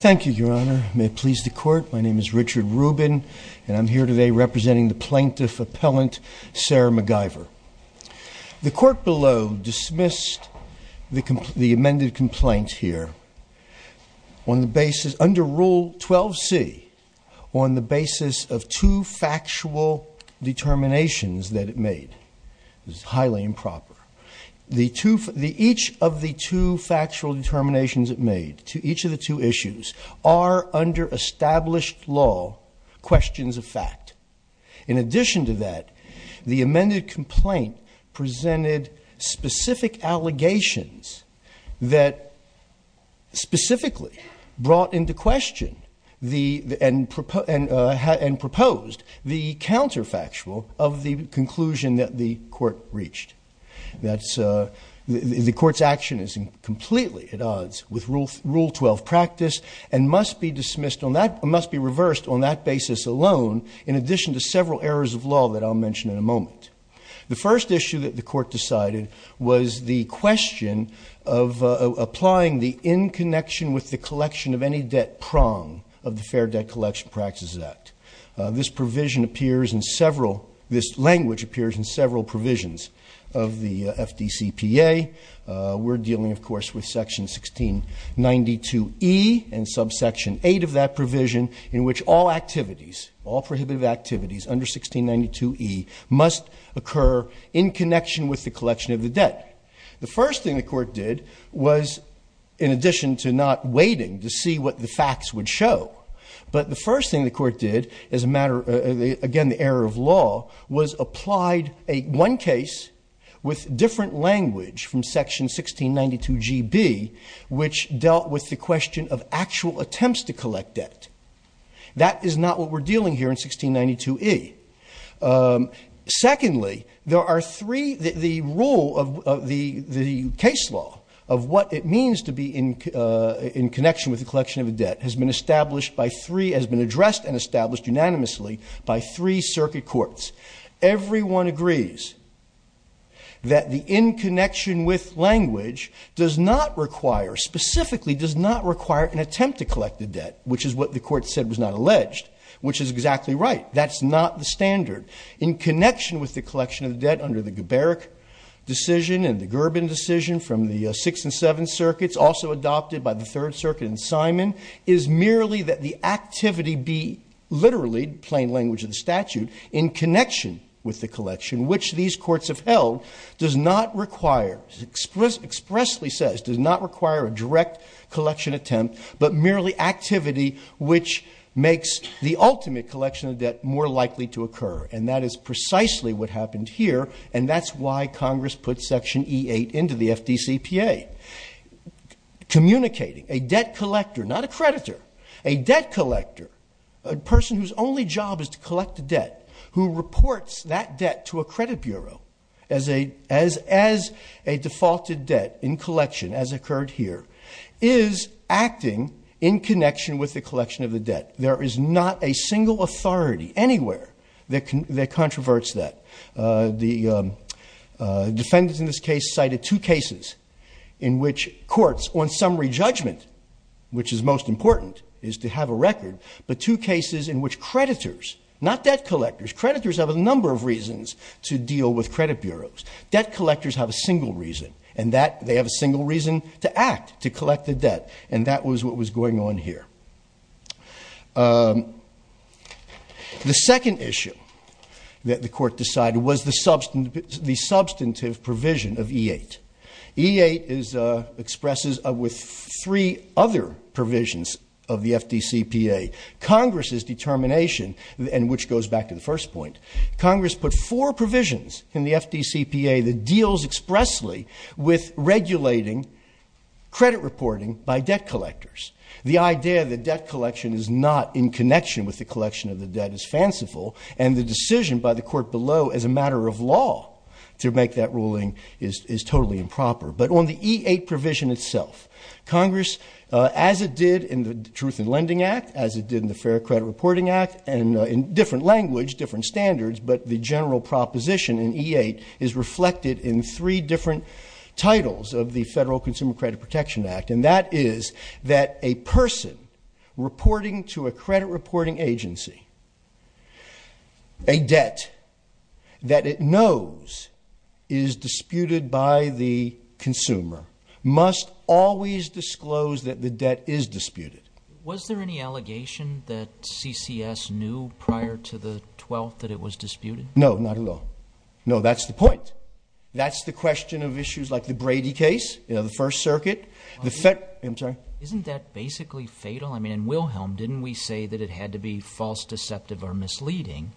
Thank you, Your Honor. May it please the Court, my name is Richard Rubin, and I'm here today representing the Plaintiff Appellant, Sarah McIvor. The Court below dismissed the amended complaint here on the basis, under Rule 12c, on the basis of two factual determinations that it made. It was highly improper. Each of the two factual determinations it made to each of the two issues are, under established law, questions of fact. In addition to that, the amended complaint presented specific allegations that specifically brought into question and proposed the counterfactual of the conclusion that the Court reached. The Court's action is completely at odds with Rule 12 practice and must be reversed on that basis alone, in addition to several errors of law that I'll mention in a moment. The first issue that the Court decided was the question of applying the in-connection-with-the-collection-of-any-debt prong of the Fair Debt Collection Practices Act. This language appears in several provisions of the FDCPA. We're dealing, of course, with Section 1692e and subsection 8 of that provision, in which all activities, all prohibitive activities under 1692e must occur in connection with the collection of the debt. The first thing the Court did was, in addition to not waiting to see what the facts would show, but the first thing the Court did, again the error of law, was applied one case with different language from Section 1692gb, which dealt with the question of actual attempts to collect debt. That is not what we're dealing here in 1692e. Secondly, the rule of the case law of what it means to be in connection with the collection of a debt has been addressed and established unanimously by three circuit courts. Everyone agrees that the in-connection-with language does not require, specifically does not require an attempt to collect a debt, which is what the Court said was not alleged, which is exactly right. That's not the standard. In connection with the collection of debt under the Geberich decision and the Gerben decision from the Sixth and Seventh Circuits, also adopted by the Third Circuit and Simon, is merely that the activity be, literally, plain language of the statute, in connection with the collection, which these courts have held, does not require, expressly says, does not require a direct collection attempt, but merely activity which makes the ultimate collection of debt more likely to occur. And that is precisely what happened here, and that's why Congress put Section E-8 into the FDCPA. Communicating a debt collector, not a creditor, a debt collector, a person whose only job is to collect a debt, who reports that debt to a credit bureau as a defaulted debt in collection, as occurred here, is acting in connection with the collection of the debt. There is not a single authority anywhere that controverts that. The defendants in this case cited two cases in which courts, on summary judgment, which is most important, is to have a record, but two cases in which creditors, not debt collectors, creditors have a number of reasons to deal with credit bureaus. Debt collectors have a single reason, and that, they have a single reason to act, to collect the debt, and that was what was going on here. The second issue that the court decided was the substantive provision of E-8. E-8 expresses with three other provisions of the FDCPA. Congress's determination, and which goes back to the first point, Congress put four provisions in the FDCPA that deals expressly with regulating credit reporting by debt collectors. The idea that debt collection is not in connection with the collection of the debt is fanciful, and the decision by the court below, as a matter of law, to make that ruling is totally improper. But on the E-8 provision itself, Congress, as it did in the Truth in Lending Act, as it did in the Fair Credit Reporting Act, and in different language, different standards, but the general proposition in E-8 is reflected in three different titles of the Federal Consumer Credit Protection Act, and that is that a person reporting to a credit reporting agency a debt that it knows is disputed by the consumer must always disclose that the debt is disputed. Was there any allegation that CCS knew prior to the 12th that it was disputed? No, not at all. No, that's the point. That's the question of issues like the Brady case, the First Circuit. Isn't that basically fatal? I mean, in Wilhelm, didn't we say that it had to be false, deceptive, or misleading?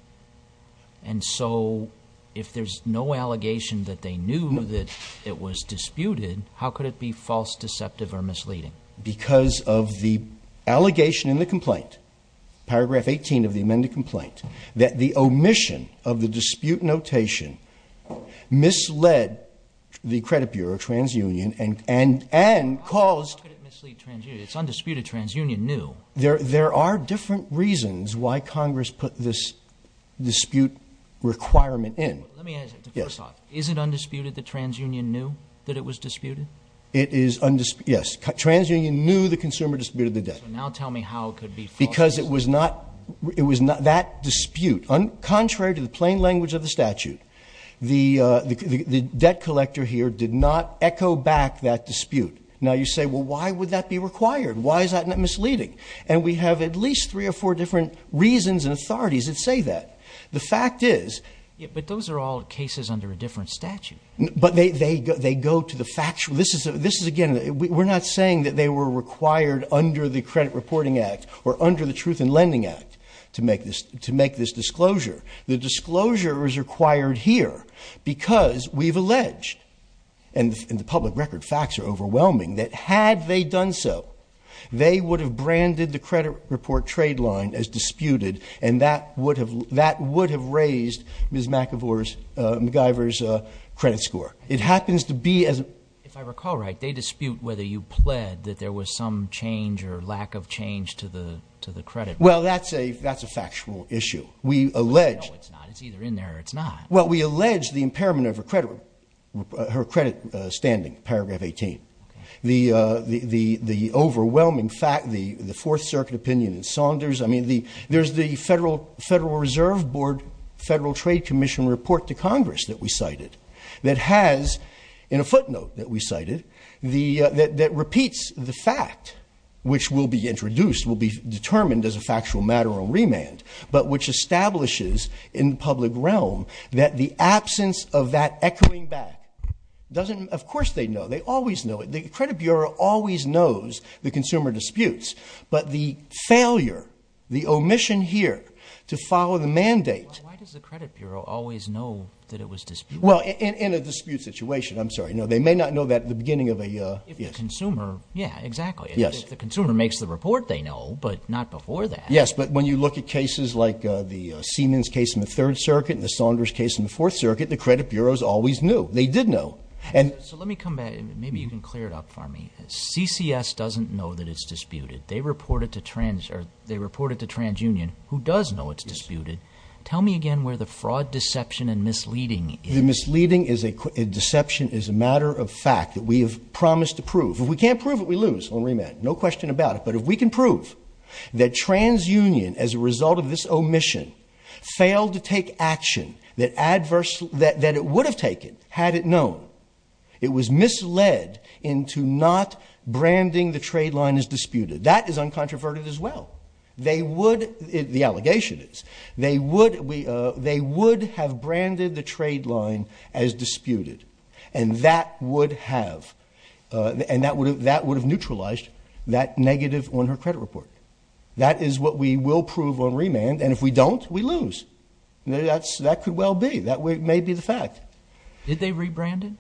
And so if there's no allegation that they knew that it was disputed, how could it be false, deceptive, or misleading? Because of the allegation in the complaint, paragraph 18 of the amended complaint, that the omission of the credit bureau, TransUnion, and caused... How could it mislead TransUnion? It's undisputed. TransUnion knew. There are different reasons why Congress put this dispute requirement in. Let me answer it. First off, is it undisputed that TransUnion knew that it was disputed? It is undisputed, yes. TransUnion knew the consumer disputed the debt. So now tell me how it could be false. Because it was not, it was not that dispute. Contrary to the plain language of the statute, the debt collector here did not echo back that dispute. Now you say, well, why would that be required? Why is that misleading? And we have at least three or four different reasons and authorities that say that. The fact is... Yeah, but those are all cases under a different statute. But they go to the factual... This is, again, we're not saying that they were required under the Credit Reporting Act or under the Truth in Lending Act to make this disclosure. The because we've alleged, and the public record facts are overwhelming, that had they done so, they would have branded the credit report trade line as disputed and that would have raised Ms. McIvor's credit score. It happens to be as... If I recall right, they dispute whether you pled that there was some change or lack of change to the credit. Well, that's a factual issue. We allege... No, it's not. It's either in there or it's not. Well, we allege the impairment of her credit standing, paragraph 18. The overwhelming fact, the Fourth Circuit opinion in Saunders. I mean, there's the Federal Reserve Board Federal Trade Commission report to Congress that we cited that has, in a footnote that we cited, that repeats the fact, which will be in the public realm, that the absence of that echoing back doesn't... Of course, they know. They always know it. The Credit Bureau always knows the consumer disputes, but the failure, the omission here to follow the mandate... Why does the Credit Bureau always know that it was disputed? Well, in a dispute situation, I'm sorry. No, they may not know that at the beginning of a... If the consumer... Yeah, exactly. If the consumer makes the report, they know, but not before that. Yes, but when you look at cases like the Siemens case in the Third Circuit and the Saunders case in the Fourth Circuit, the Credit Bureau's always knew. They did know. And... So let me come back. Maybe you can clear it up for me. CCS doesn't know that it's disputed. They reported to Trans... Or they reported to TransUnion, who does know it's disputed. Tell me again where the fraud, deception, and misleading is. The misleading is a... Deception is a matter of fact that we have promised to prove. If we can't prove it, we lose on remand. No question about it. But if we can prove that TransUnion, as a result of this omission, failed to take action that adverse... That it would have taken, had it known. It was misled into not branding the trade line as disputed. That is uncontroverted as well. They would... The allegation is. They would have branded the trade line as disputed. And that would have... And that would have neutralized that negative on her credit report. That is what we will prove on remand. And if we don't, we lose. That's... That could well be. That may be the fact. Did they rebrand it?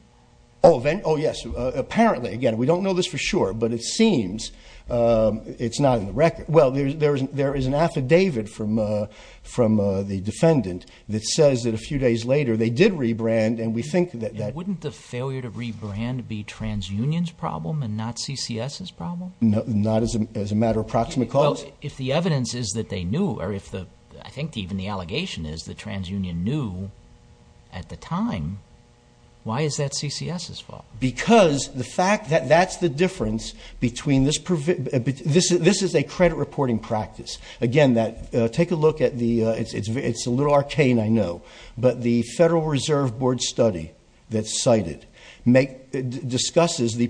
Oh, yes. Apparently. Again, we don't know this for sure. But it seems it's not in the record. Well, there is an affidavit from the defendant that says that a few days later they did rebrand. And we think that... Wouldn't the failure to rebrand be TransUnion's problem and not CCS's problem? Not as a matter of proximate cause? Well, if the evidence is that they knew or if the... I think even the allegation is that TransUnion knew at the time, why is that CCS's fault? Because the fact that that's the difference between this... This is a credit reporting practice. Again, that... Take a look at the... It's a little arcane, I know. But the Federal Dispute... It discusses the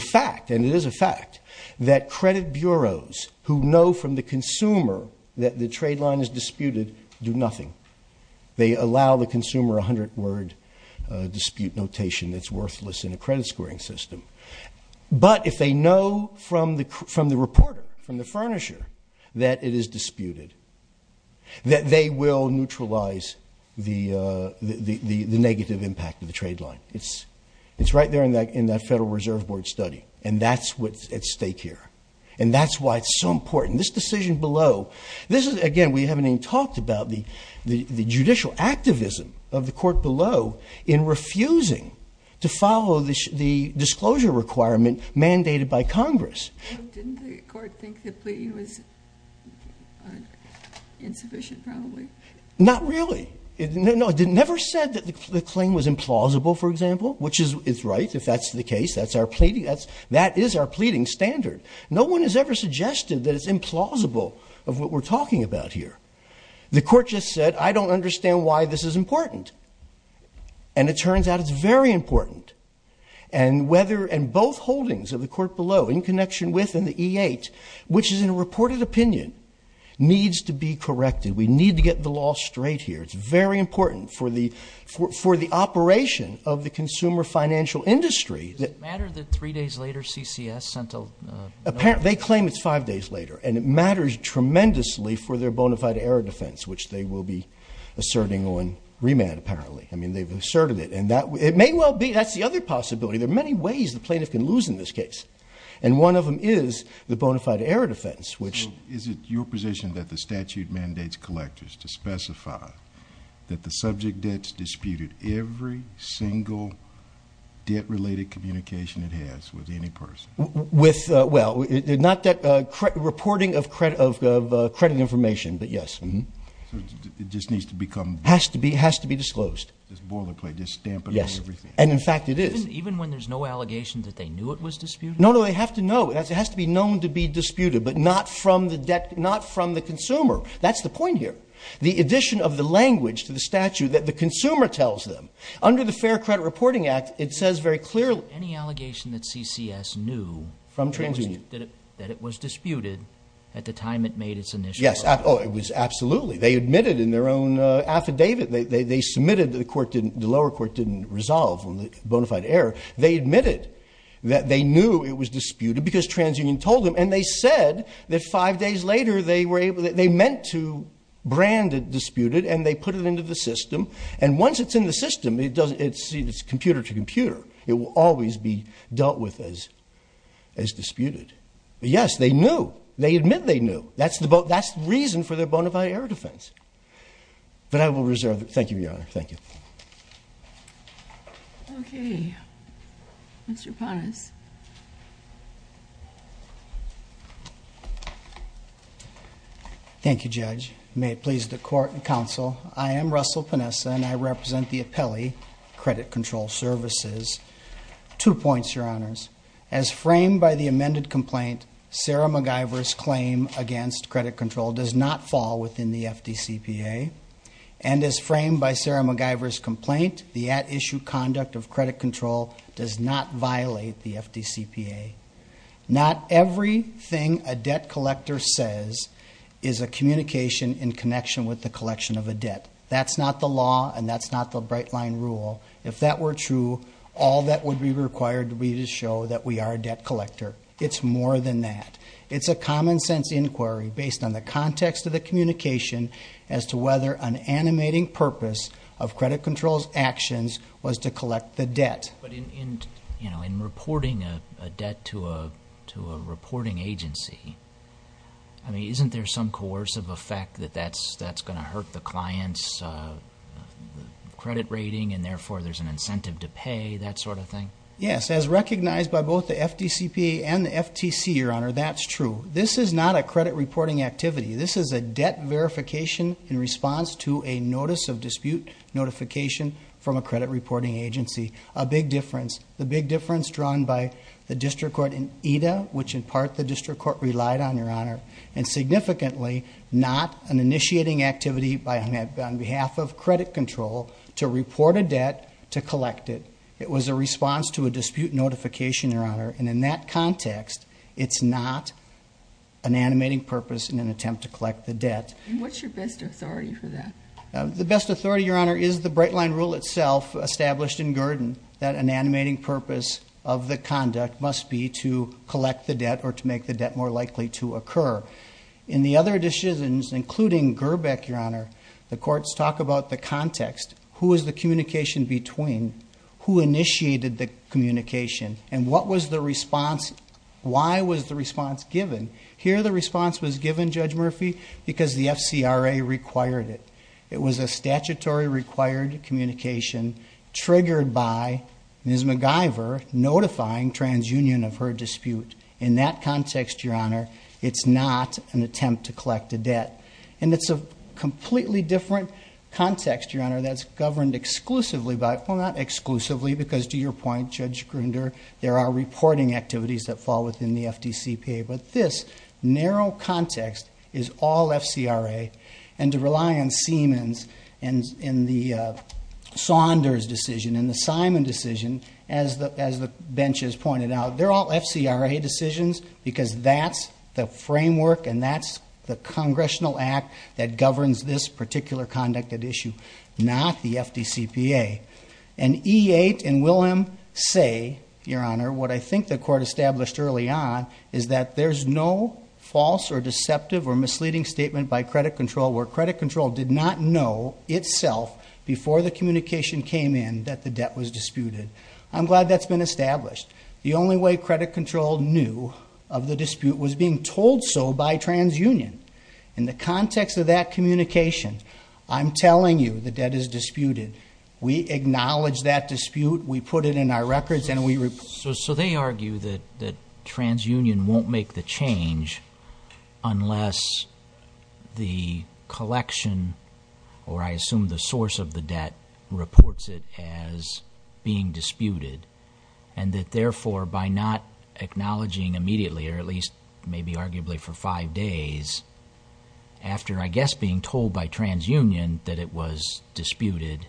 fact, and it is a fact, that credit bureaus who know from the consumer that the trade line is disputed do nothing. They allow the consumer a hundred-word dispute notation that's worthless in a credit scoring system. But if they know from the reporter, from the furnisher, that it is disputed, that they will neutralize the negative impact of the Federal Reserve Board study. And that's what's at stake here. And that's why it's so important. This decision below... This is... Again, we haven't even talked about the judicial activism of the court below in refusing to follow the disclosure requirement mandated by Congress. Didn't the court think the plea was insufficient, probably? Not really. No, it never said that the claim was insufficient. That's our case. That is our pleading standard. No one has ever suggested that it's implausible of what we're talking about here. The court just said, I don't understand why this is important. And it turns out it's very important. And whether... And both holdings of the court below, in connection with and the E-8, which is in a reported opinion, needs to be corrected. We need to get the law straight here. It's very important for the operation of the consumer financial industry. Does it matter that three days later, CCS sent a... Apparently, they claim it's five days later. And it matters tremendously for their bona fide error defense, which they will be asserting on remand, apparently. I mean, they've asserted it. And that... It may well be. That's the other possibility. There are many ways the plaintiff can lose in this case. And one of them is the bona fide error defense, which... Is it your position that the statute mandates collectors to specify that the subject every single debt-related communication it has with any person? With... Well, not that... Reporting of credit information, but yes. It just needs to become... Has to be disclosed. Just boilerplate. Just stamp it on everything. Yes. And in fact, it is. Even when there's no allegation that they knew it was disputed? No, no. They have to know. It has to be known to be disputed, but not from the consumer. That's the point here. The addition of the language to the statute that the consumer tells them. Under the Fair Credit Reporting Act, it says very clearly... Any allegation that CCS knew... From TransUnion. That it was disputed at the time it made its initial... Yes. Oh, it was absolutely. They admitted in their own affidavit. They submitted that the court didn't... The lower court didn't resolve on the bona fide error. They admitted that they knew it was disputed because TransUnion told them. And they said that five days later, they were able... They meant to brand it disputed, and they put it into the system. And once it's in the system, it doesn't... It's computer to computer. It will always be dealt with as disputed. But yes, they knew. They admit they knew. That's the reason for their bona fide error defense. But I will reserve... Thank you, Your Honor. Thank you. Okay. Mr. Ponis. Thank you, Judge. May it please the court and counsel, I am Russell Ponisa, and I represent the appellee, Credit Control Services. Two points, Your Honors. As framed by the amended complaint, Sarah MacGyver's claim against credit control does not fall within the FDCPA. And as framed by Sarah MacGyver's complaint, the at issue conduct of credit control does not violate the FDCPA. Not everything a debt collector says is a communication in connection with the collection of a debt. That's not the law, and that's not the bright line rule. If that were true, all that would be required would be to show that we are a debt collector. It's more than that. It's a common sense inquiry based on the context of the communication as to whether an animating purpose of credit control's actions was to collect the debt. But in reporting a debt to a reporting agency, I mean, isn't there some coercive effect that that's going to hurt the client's credit rating, and therefore there's an incentive to pay, that sort of thing? Yes. As recognized by both the FDCPA and the FTC, Your Honor, that's true. This is not a credit reporting activity. This is a debt verification in response to a notice of dispute notification from a credit reporting agency. A big difference. The big difference drawn by the district court in EDA, which in part the district court relied on, Your Honor, and significantly not an initiating activity on behalf of credit control to report a debt to collect it. It was a response to a dispute notification, Your Honor, and in that context, it's not an animating purpose in an attempt to collect the debt. What's your best authority for that? The best authority, Your Honor, is the bright line rule itself established in Gurdon, that an animating purpose of the conduct must be to collect the debt or to make the debt more likely to occur. In the other decisions, including Gerbeck, Your Honor, the courts talk about the context. Who is the communication between? Who initiated the communication? And what was the response? Why was the response given? Here the response was given, Judge Murphy, because the FCRA required it. It was a statutory required communication triggered by Ms. MacGyver notifying TransUnion of her dispute. In that context, Your Honor, it's not an attempt to collect a debt. And it's a completely different context, Your Honor, that's governed exclusively by, well, not exclusively, because to your point, Judge Grinder, there are reporting activities that fall within the FDCPA, but this narrow context is all FCRA. And to rely on Siemens and the Saunders decision and the Simon decision, as the bench has pointed out, they're all FCRA decisions because that's the framework and that's the Congressional Act that governs this particular conduct at issue, not the FDCPA. And E-8 and Willem say, Your Honor, what I think the court established early on is that there's no false or deceptive or misleading statement by credit control where credit control did not know itself before the communication came in that the debt was disputed. I'm glad that's been established. The only way credit control knew of the dispute was being told so by TransUnion. In the context of that communication, I'm telling you the debt is disputed. We acknowledge that dispute. We put it in our records. So they argue that TransUnion won't make the change unless the collection, or I assume the source of the debt, reports it as being disputed and that therefore by not acknowledging immediately, or at least maybe arguably for five days after, I guess, being told by TransUnion that it was disputed,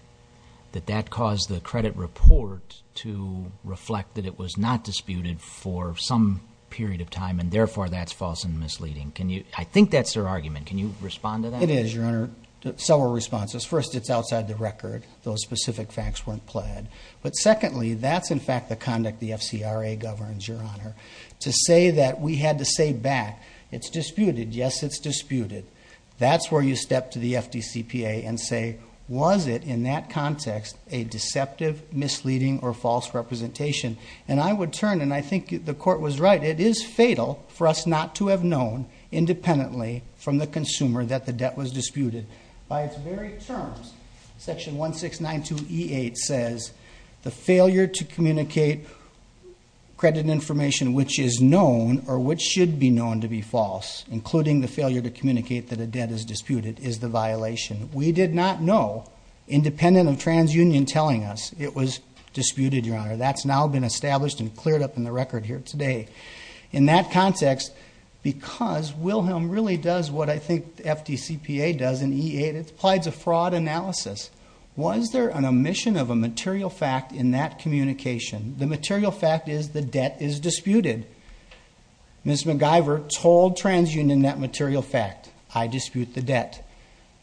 that that caused the credit report to reflect that it was not disputed for some period of time and therefore that's false and misleading. I think that's their argument. Can you respond to that? It is, Your Honor. Several responses. First, it's outside the record. Those specific facts weren't pled. But secondly, that's in fact the conduct the FCRA governs, Your Honor. To say that we had to say back, it's disputed. Yes, it's disputed. That's where you step to the FDCPA and say, was it in that context a deceptive, misleading, or false representation? And I would turn, and I think the Court was right, it is fatal for us not to have known independently from the consumer that the debt was disputed. By its very terms, Section 1692E8 says the failure to communicate credit information which is known or which should be known to be false, including the failure to communicate that a debt is disputed, is the violation. We did not know, independent of TransUnion telling us it was disputed, Your Honor. That's now been established and cleared up in the record here today. In that context, because Wilhelm really does what I think the FDCPA does in E8, it's applied to fraud analysis. Was there an omission of a material fact in that communication? The material fact is the debt is disputed. Ms. McGiver told TransUnion that material fact, I dispute the debt.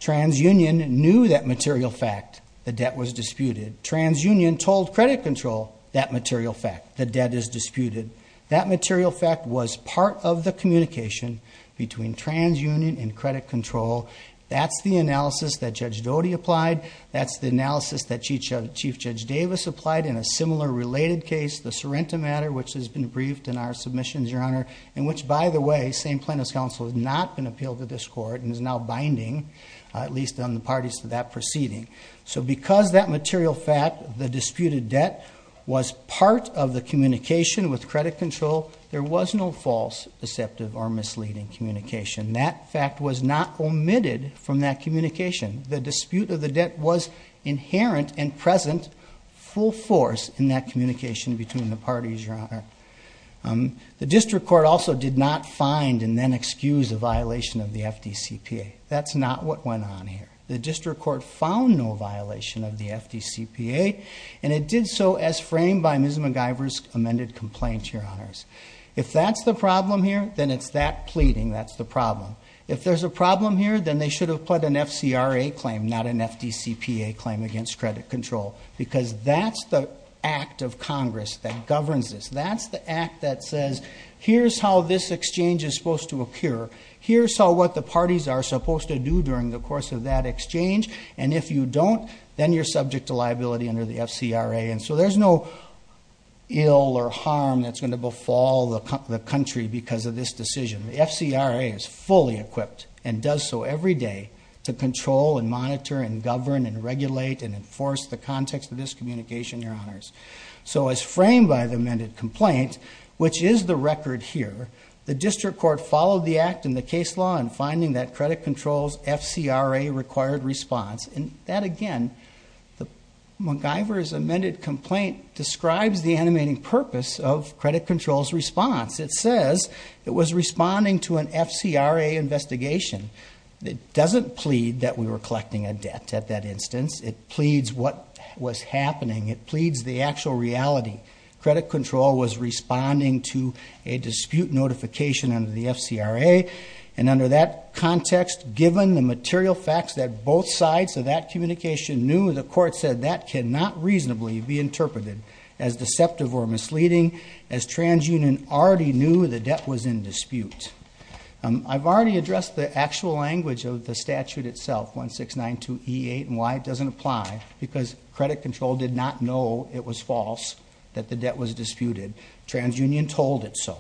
TransUnion knew that material fact, the debt was disputed. TransUnion told Credit Control that material fact, the debt is disputed. That material fact was part of the communication between TransUnion and Credit Control. That's the analysis that Judge Doty applied. That's the analysis that Chief Judge Davis applied in a similar related case, the Sorrento matter, which has been briefed in our submissions, Your Honor, and which, by the way, same plaintiff's counsel has not been appealed to this court and is now binding, at least on the parties to that proceeding. So because that material fact, the disputed debt, was part of the communication with Credit Control, there was no false, deceptive, or misleading communication. That fact was not omitted from that communication. The dispute of the debt was inherent and present, full force, in that communication between the parties, Your Honor. The District Court also did not find and then excuse a violation of the FDCPA. That's not what went on here. The District Court found no violation of the FDCPA and it did so as framed by Ms. McGiver's amended complaint, Your Honors. If that's the problem here, then it's that not an FDCPA claim against Credit Control because that's the act of Congress that governs this. That's the act that says, here's how this exchange is supposed to occur. Here's how what the parties are supposed to do during the course of that exchange. And if you don't, then you're subject to liability under the FCRA. And so there's no ill or harm that's going to befall the country because of this decision. The FCRA is fully equipped and does so every day to control and monitor and govern and regulate and enforce the context of this communication, Your Honors. So as framed by the amended complaint, which is the record here, the District Court followed the act in the case law in finding that Credit Control's FCRA required response. And that again, the McGiver's amended complaint describes the animating purpose of Credit Control's response. It says it was responding to an FCRA investigation. It doesn't plead that we were collecting a debt at that instance. It pleads what was happening. It pleads the actual reality. Credit Control was responding to a dispute notification under the FCRA. And under that context, given the material facts that both sides of that communication knew, the court said that cannot reasonably be interpreted as deceptive or misleading as TransUnion already knew the debt was in dispute. I've already addressed the actual language of the statute itself, 1692E8, and why it doesn't apply because Credit Control did not know it was false, that the debt was disputed. TransUnion told it so.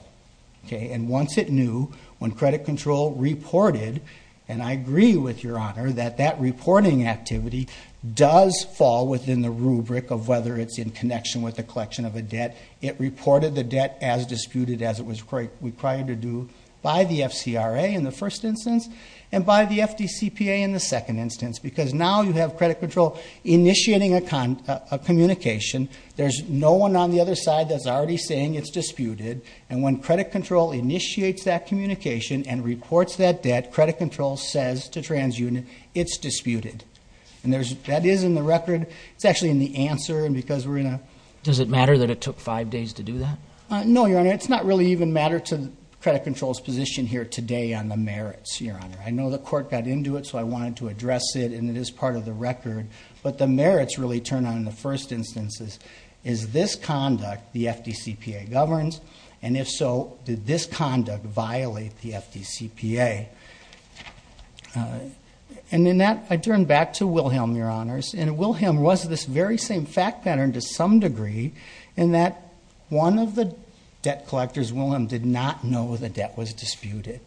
Okay. And once it knew, when Credit Control reported, and I agree with Your Honor that that reporting activity does fall within the rubric of whether it's in connection with the collection of a debt, it reported the debt as disputed as it was required to do by the FCRA in the first instance and by the FDCPA in the second instance. Because now you have Credit Control initiating a communication. There's no one on the other side that's already saying it's disputed. And when Credit Control initiates that communication and reports that debt, Credit Control says to TransUnion it's disputed. And that is in the record. It's actually in the answer and because we're in a... Does it matter that it took five days to do that? No, Your Honor. It's not really even matter to Credit Control's position here today on the merits, Your Honor. I know the court got into it, so I wanted to address it and it is part of the record. But the merits really turn on in the first instances. Is this conduct the FDCPA governs? And if so, did this conduct violate the FDCPA? And in that, I turn back to Wilhelm, Your Honors. And Wilhelm was this very same fact pattern to some degree in that one of the debt collectors, Wilhelm, did not know the debt was disputed.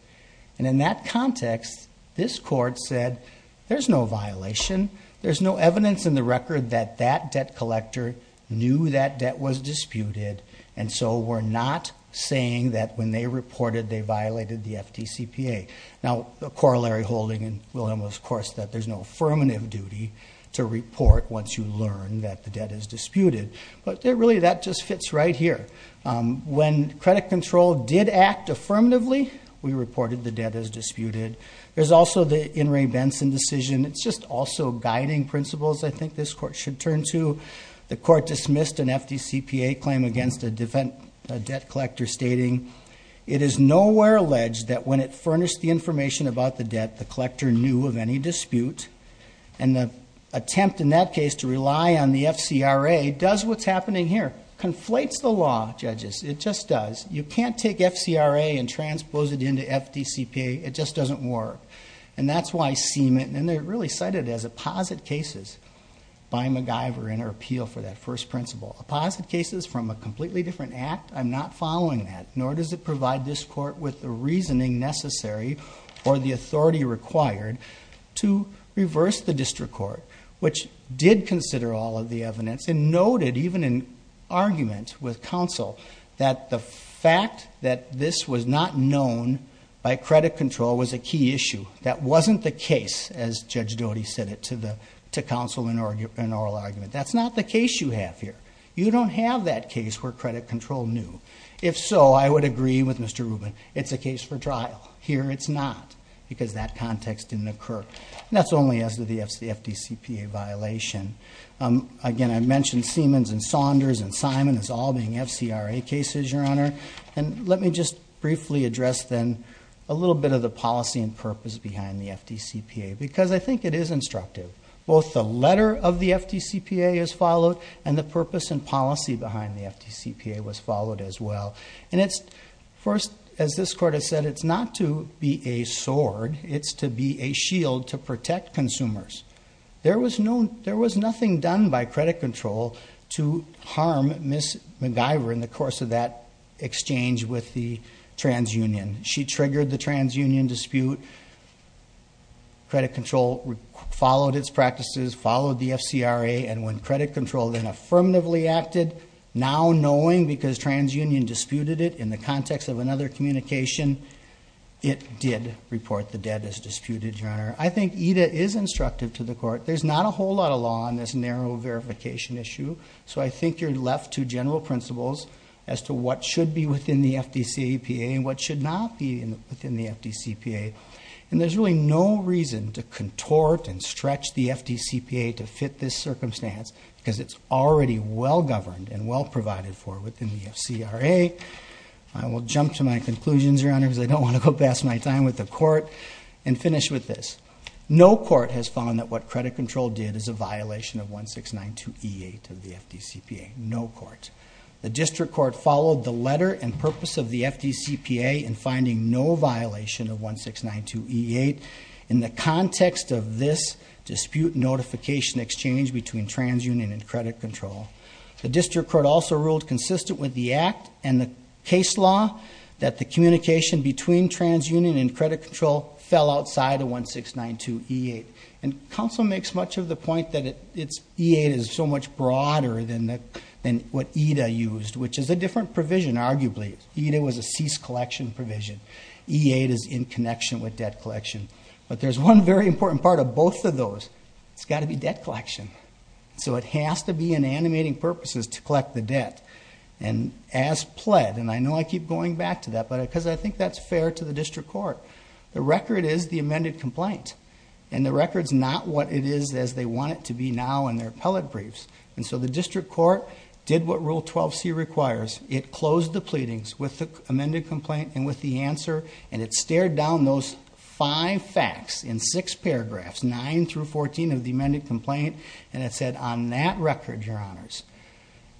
And in that context, this court said there's no violation. There's no evidence in the record that that debt collector knew that debt was disputed. And so we're not saying that when they reported, they violated the FDCPA. Now, the corollary holding in Wilhelm was, of course, that there's no affirmative duty to report once you learn that the debt is disputed. But really, that just fits right here. When Credit Control did act affirmatively, we reported the debt is disputed. There's also the In re Benson decision. It's just also guiding principles. I think this court should turn to. The court dismissed an FDCPA claim against a debt collector stating, it is nowhere alleged that when it furnished the information about the debt, the collector knew of any dispute. And the attempt in that case to rely on the FCRA does what's happening here. Conflates the law, judges. It just does. You can't take FCRA and transpose it into FDCPA. It just doesn't work. And that's why Seaman, and they're really cited as opposite cases by MacGyver in her appeal for that first principle, opposite cases from a completely different act. I'm not following that, nor does it provide this court with the reasoning necessary or the authority required to reverse the district court, which did consider all of the evidence and noted even in argument with counsel that the fact that this was not known by credit control was a key issue. That wasn't the case as Judge Doty said it to the, to counsel in oral argument. That's not the case you have here. You don't have that case where credit control knew. If so, I would agree with Mr. Rubin. It's a case for trial. Here it's not because that context didn't occur. And that's only as to the FDCPA violation. Again, I mentioned Seamans and Saunders and Simon as all being FCRA cases, your honor. And let me just briefly address then a little bit of the policy and purpose behind the FDCPA, because I think it is instructive. Both the letter of the FDCPA is followed and the purpose and policy behind the FDCPA was followed as well. And it's first, as this court has said, it's not to be a sword. It's to be a shield to credit control to harm Ms. MacGyver in the course of that exchange with the transunion. She triggered the transunion dispute. Credit control followed its practices, followed the FCRA. And when credit control then affirmatively acted, now knowing because transunion disputed it in the context of another communication, it did report the debt as disputed, your honor. I think EDA is instructive to the court. There's not a whole lot of law on this narrow verification issue. So I think you're left to general principles as to what should be within the FDCPA and what should not be within the FDCPA. And there's really no reason to contort and stretch the FDCPA to fit this circumstance because it's already well governed and well provided for within the FCRA. I will jump to my conclusions, your honor, because I don't want to go past my time with the court and finish with this. No court has found that what credit control did is a violation of 1692E8 of the FDCPA. No court. The district court followed the letter and purpose of the FDCPA in finding no violation of 1692E8 in the context of this dispute notification exchange between transunion and credit control. The district court also ruled consistent with the act and the case law that the communication between transunion and credit control fell outside of 1692E8. And counsel makes much of the point that it's E8 is so much broader than what EDA used, which is a different provision, arguably. EDA was a cease collection provision. E8 is in connection with debt collection. But there's one very important part of both of those. It's got to be debt collection. So it has to be in animating purposes to collect the debt. And as pled, and I know I keep going back to that, because I think that's fair to the district court. The record is the amended complaint. And the record's not what it is as they want it to be now in their appellate briefs. And so the district court did what Rule 12C requires. It closed the pleadings with the amended complaint and with the answer. And it stared down those five facts in six paragraphs, nine through 14 of the amended complaint. And it said on that record, your honors,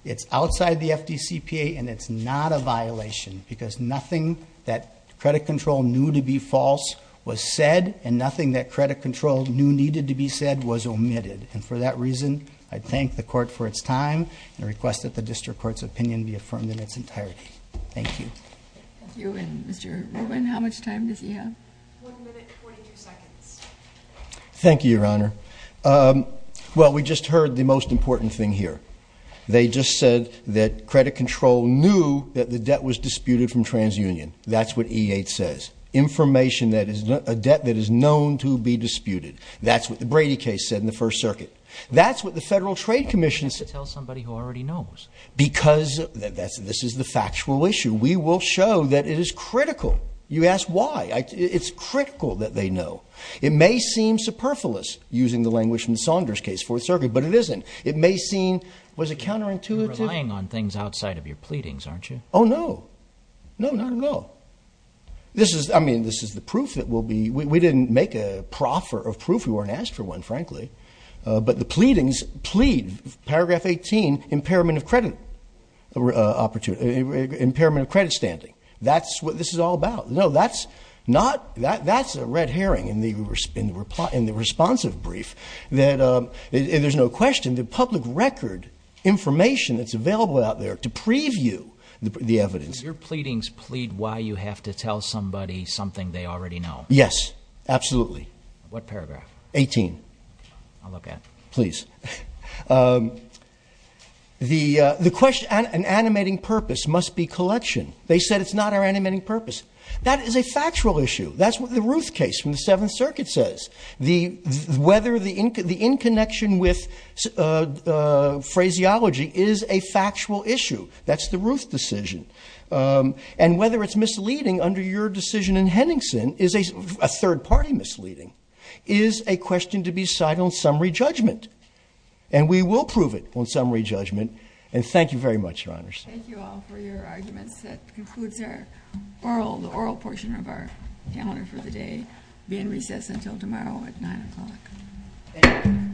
it's outside the FDCPA and it's not a violation because nothing that credit control knew to be false was said and nothing that credit control knew needed to be said was omitted. And for that reason, I thank the court for its time and request that the district court's opinion be affirmed in its entirety. Thank you. Thank you. And Mr. Rubin, how much time does he have? One minute, 42 seconds. Thank you, your honor. Well, we just heard the most important thing here. They just said that credit control knew that the debt was disputed from TransUnion. That's what E8 says. Information that is a debt that is known to be disputed. That's what the Brady case said in the First Circuit. That's what the Federal Trade Commission said. You have to tell somebody who already knows. Because this is the factual issue. We will show that it is critical. You ask why? It's critical that they know. It may seem superfluous using the language from Saunders' Fourth Circuit, but it isn't. It may seem, was it counterintuitive? You're relying on things outside of your pleadings, aren't you? Oh, no. No, not at all. I mean, this is the proof that we'll be, we didn't make a proffer of proof. We weren't asked for one, frankly. But the pleadings plead, paragraph 18, impairment of credit opportunity, impairment of credit standing. That's what this is all about. No, that's not, that's a red herring in the responsive brief that there's no question that public record information that's available out there to preview the evidence. Your pleadings plead why you have to tell somebody something they already know. Yes, absolutely. What paragraph? 18. I'll look at it. Please. The question, an animating purpose must be collection. They said it's not our animating purpose. That is a factual issue. That's what the Ruth case from the Seventh Circuit says. The, whether the, the in connection with, uh, uh, phraseology is a factual issue. That's the Ruth decision. Um, and whether it's misleading under your decision in Henningsen is a third party misleading, is a question to be cited on summary judgment. And we will prove it on summary judgment. And thank you very much, Your Honors. Thank you all for your arguments. That concludes our oral, the oral portion of our calendar for the day being recessed until tomorrow at nine o'clock.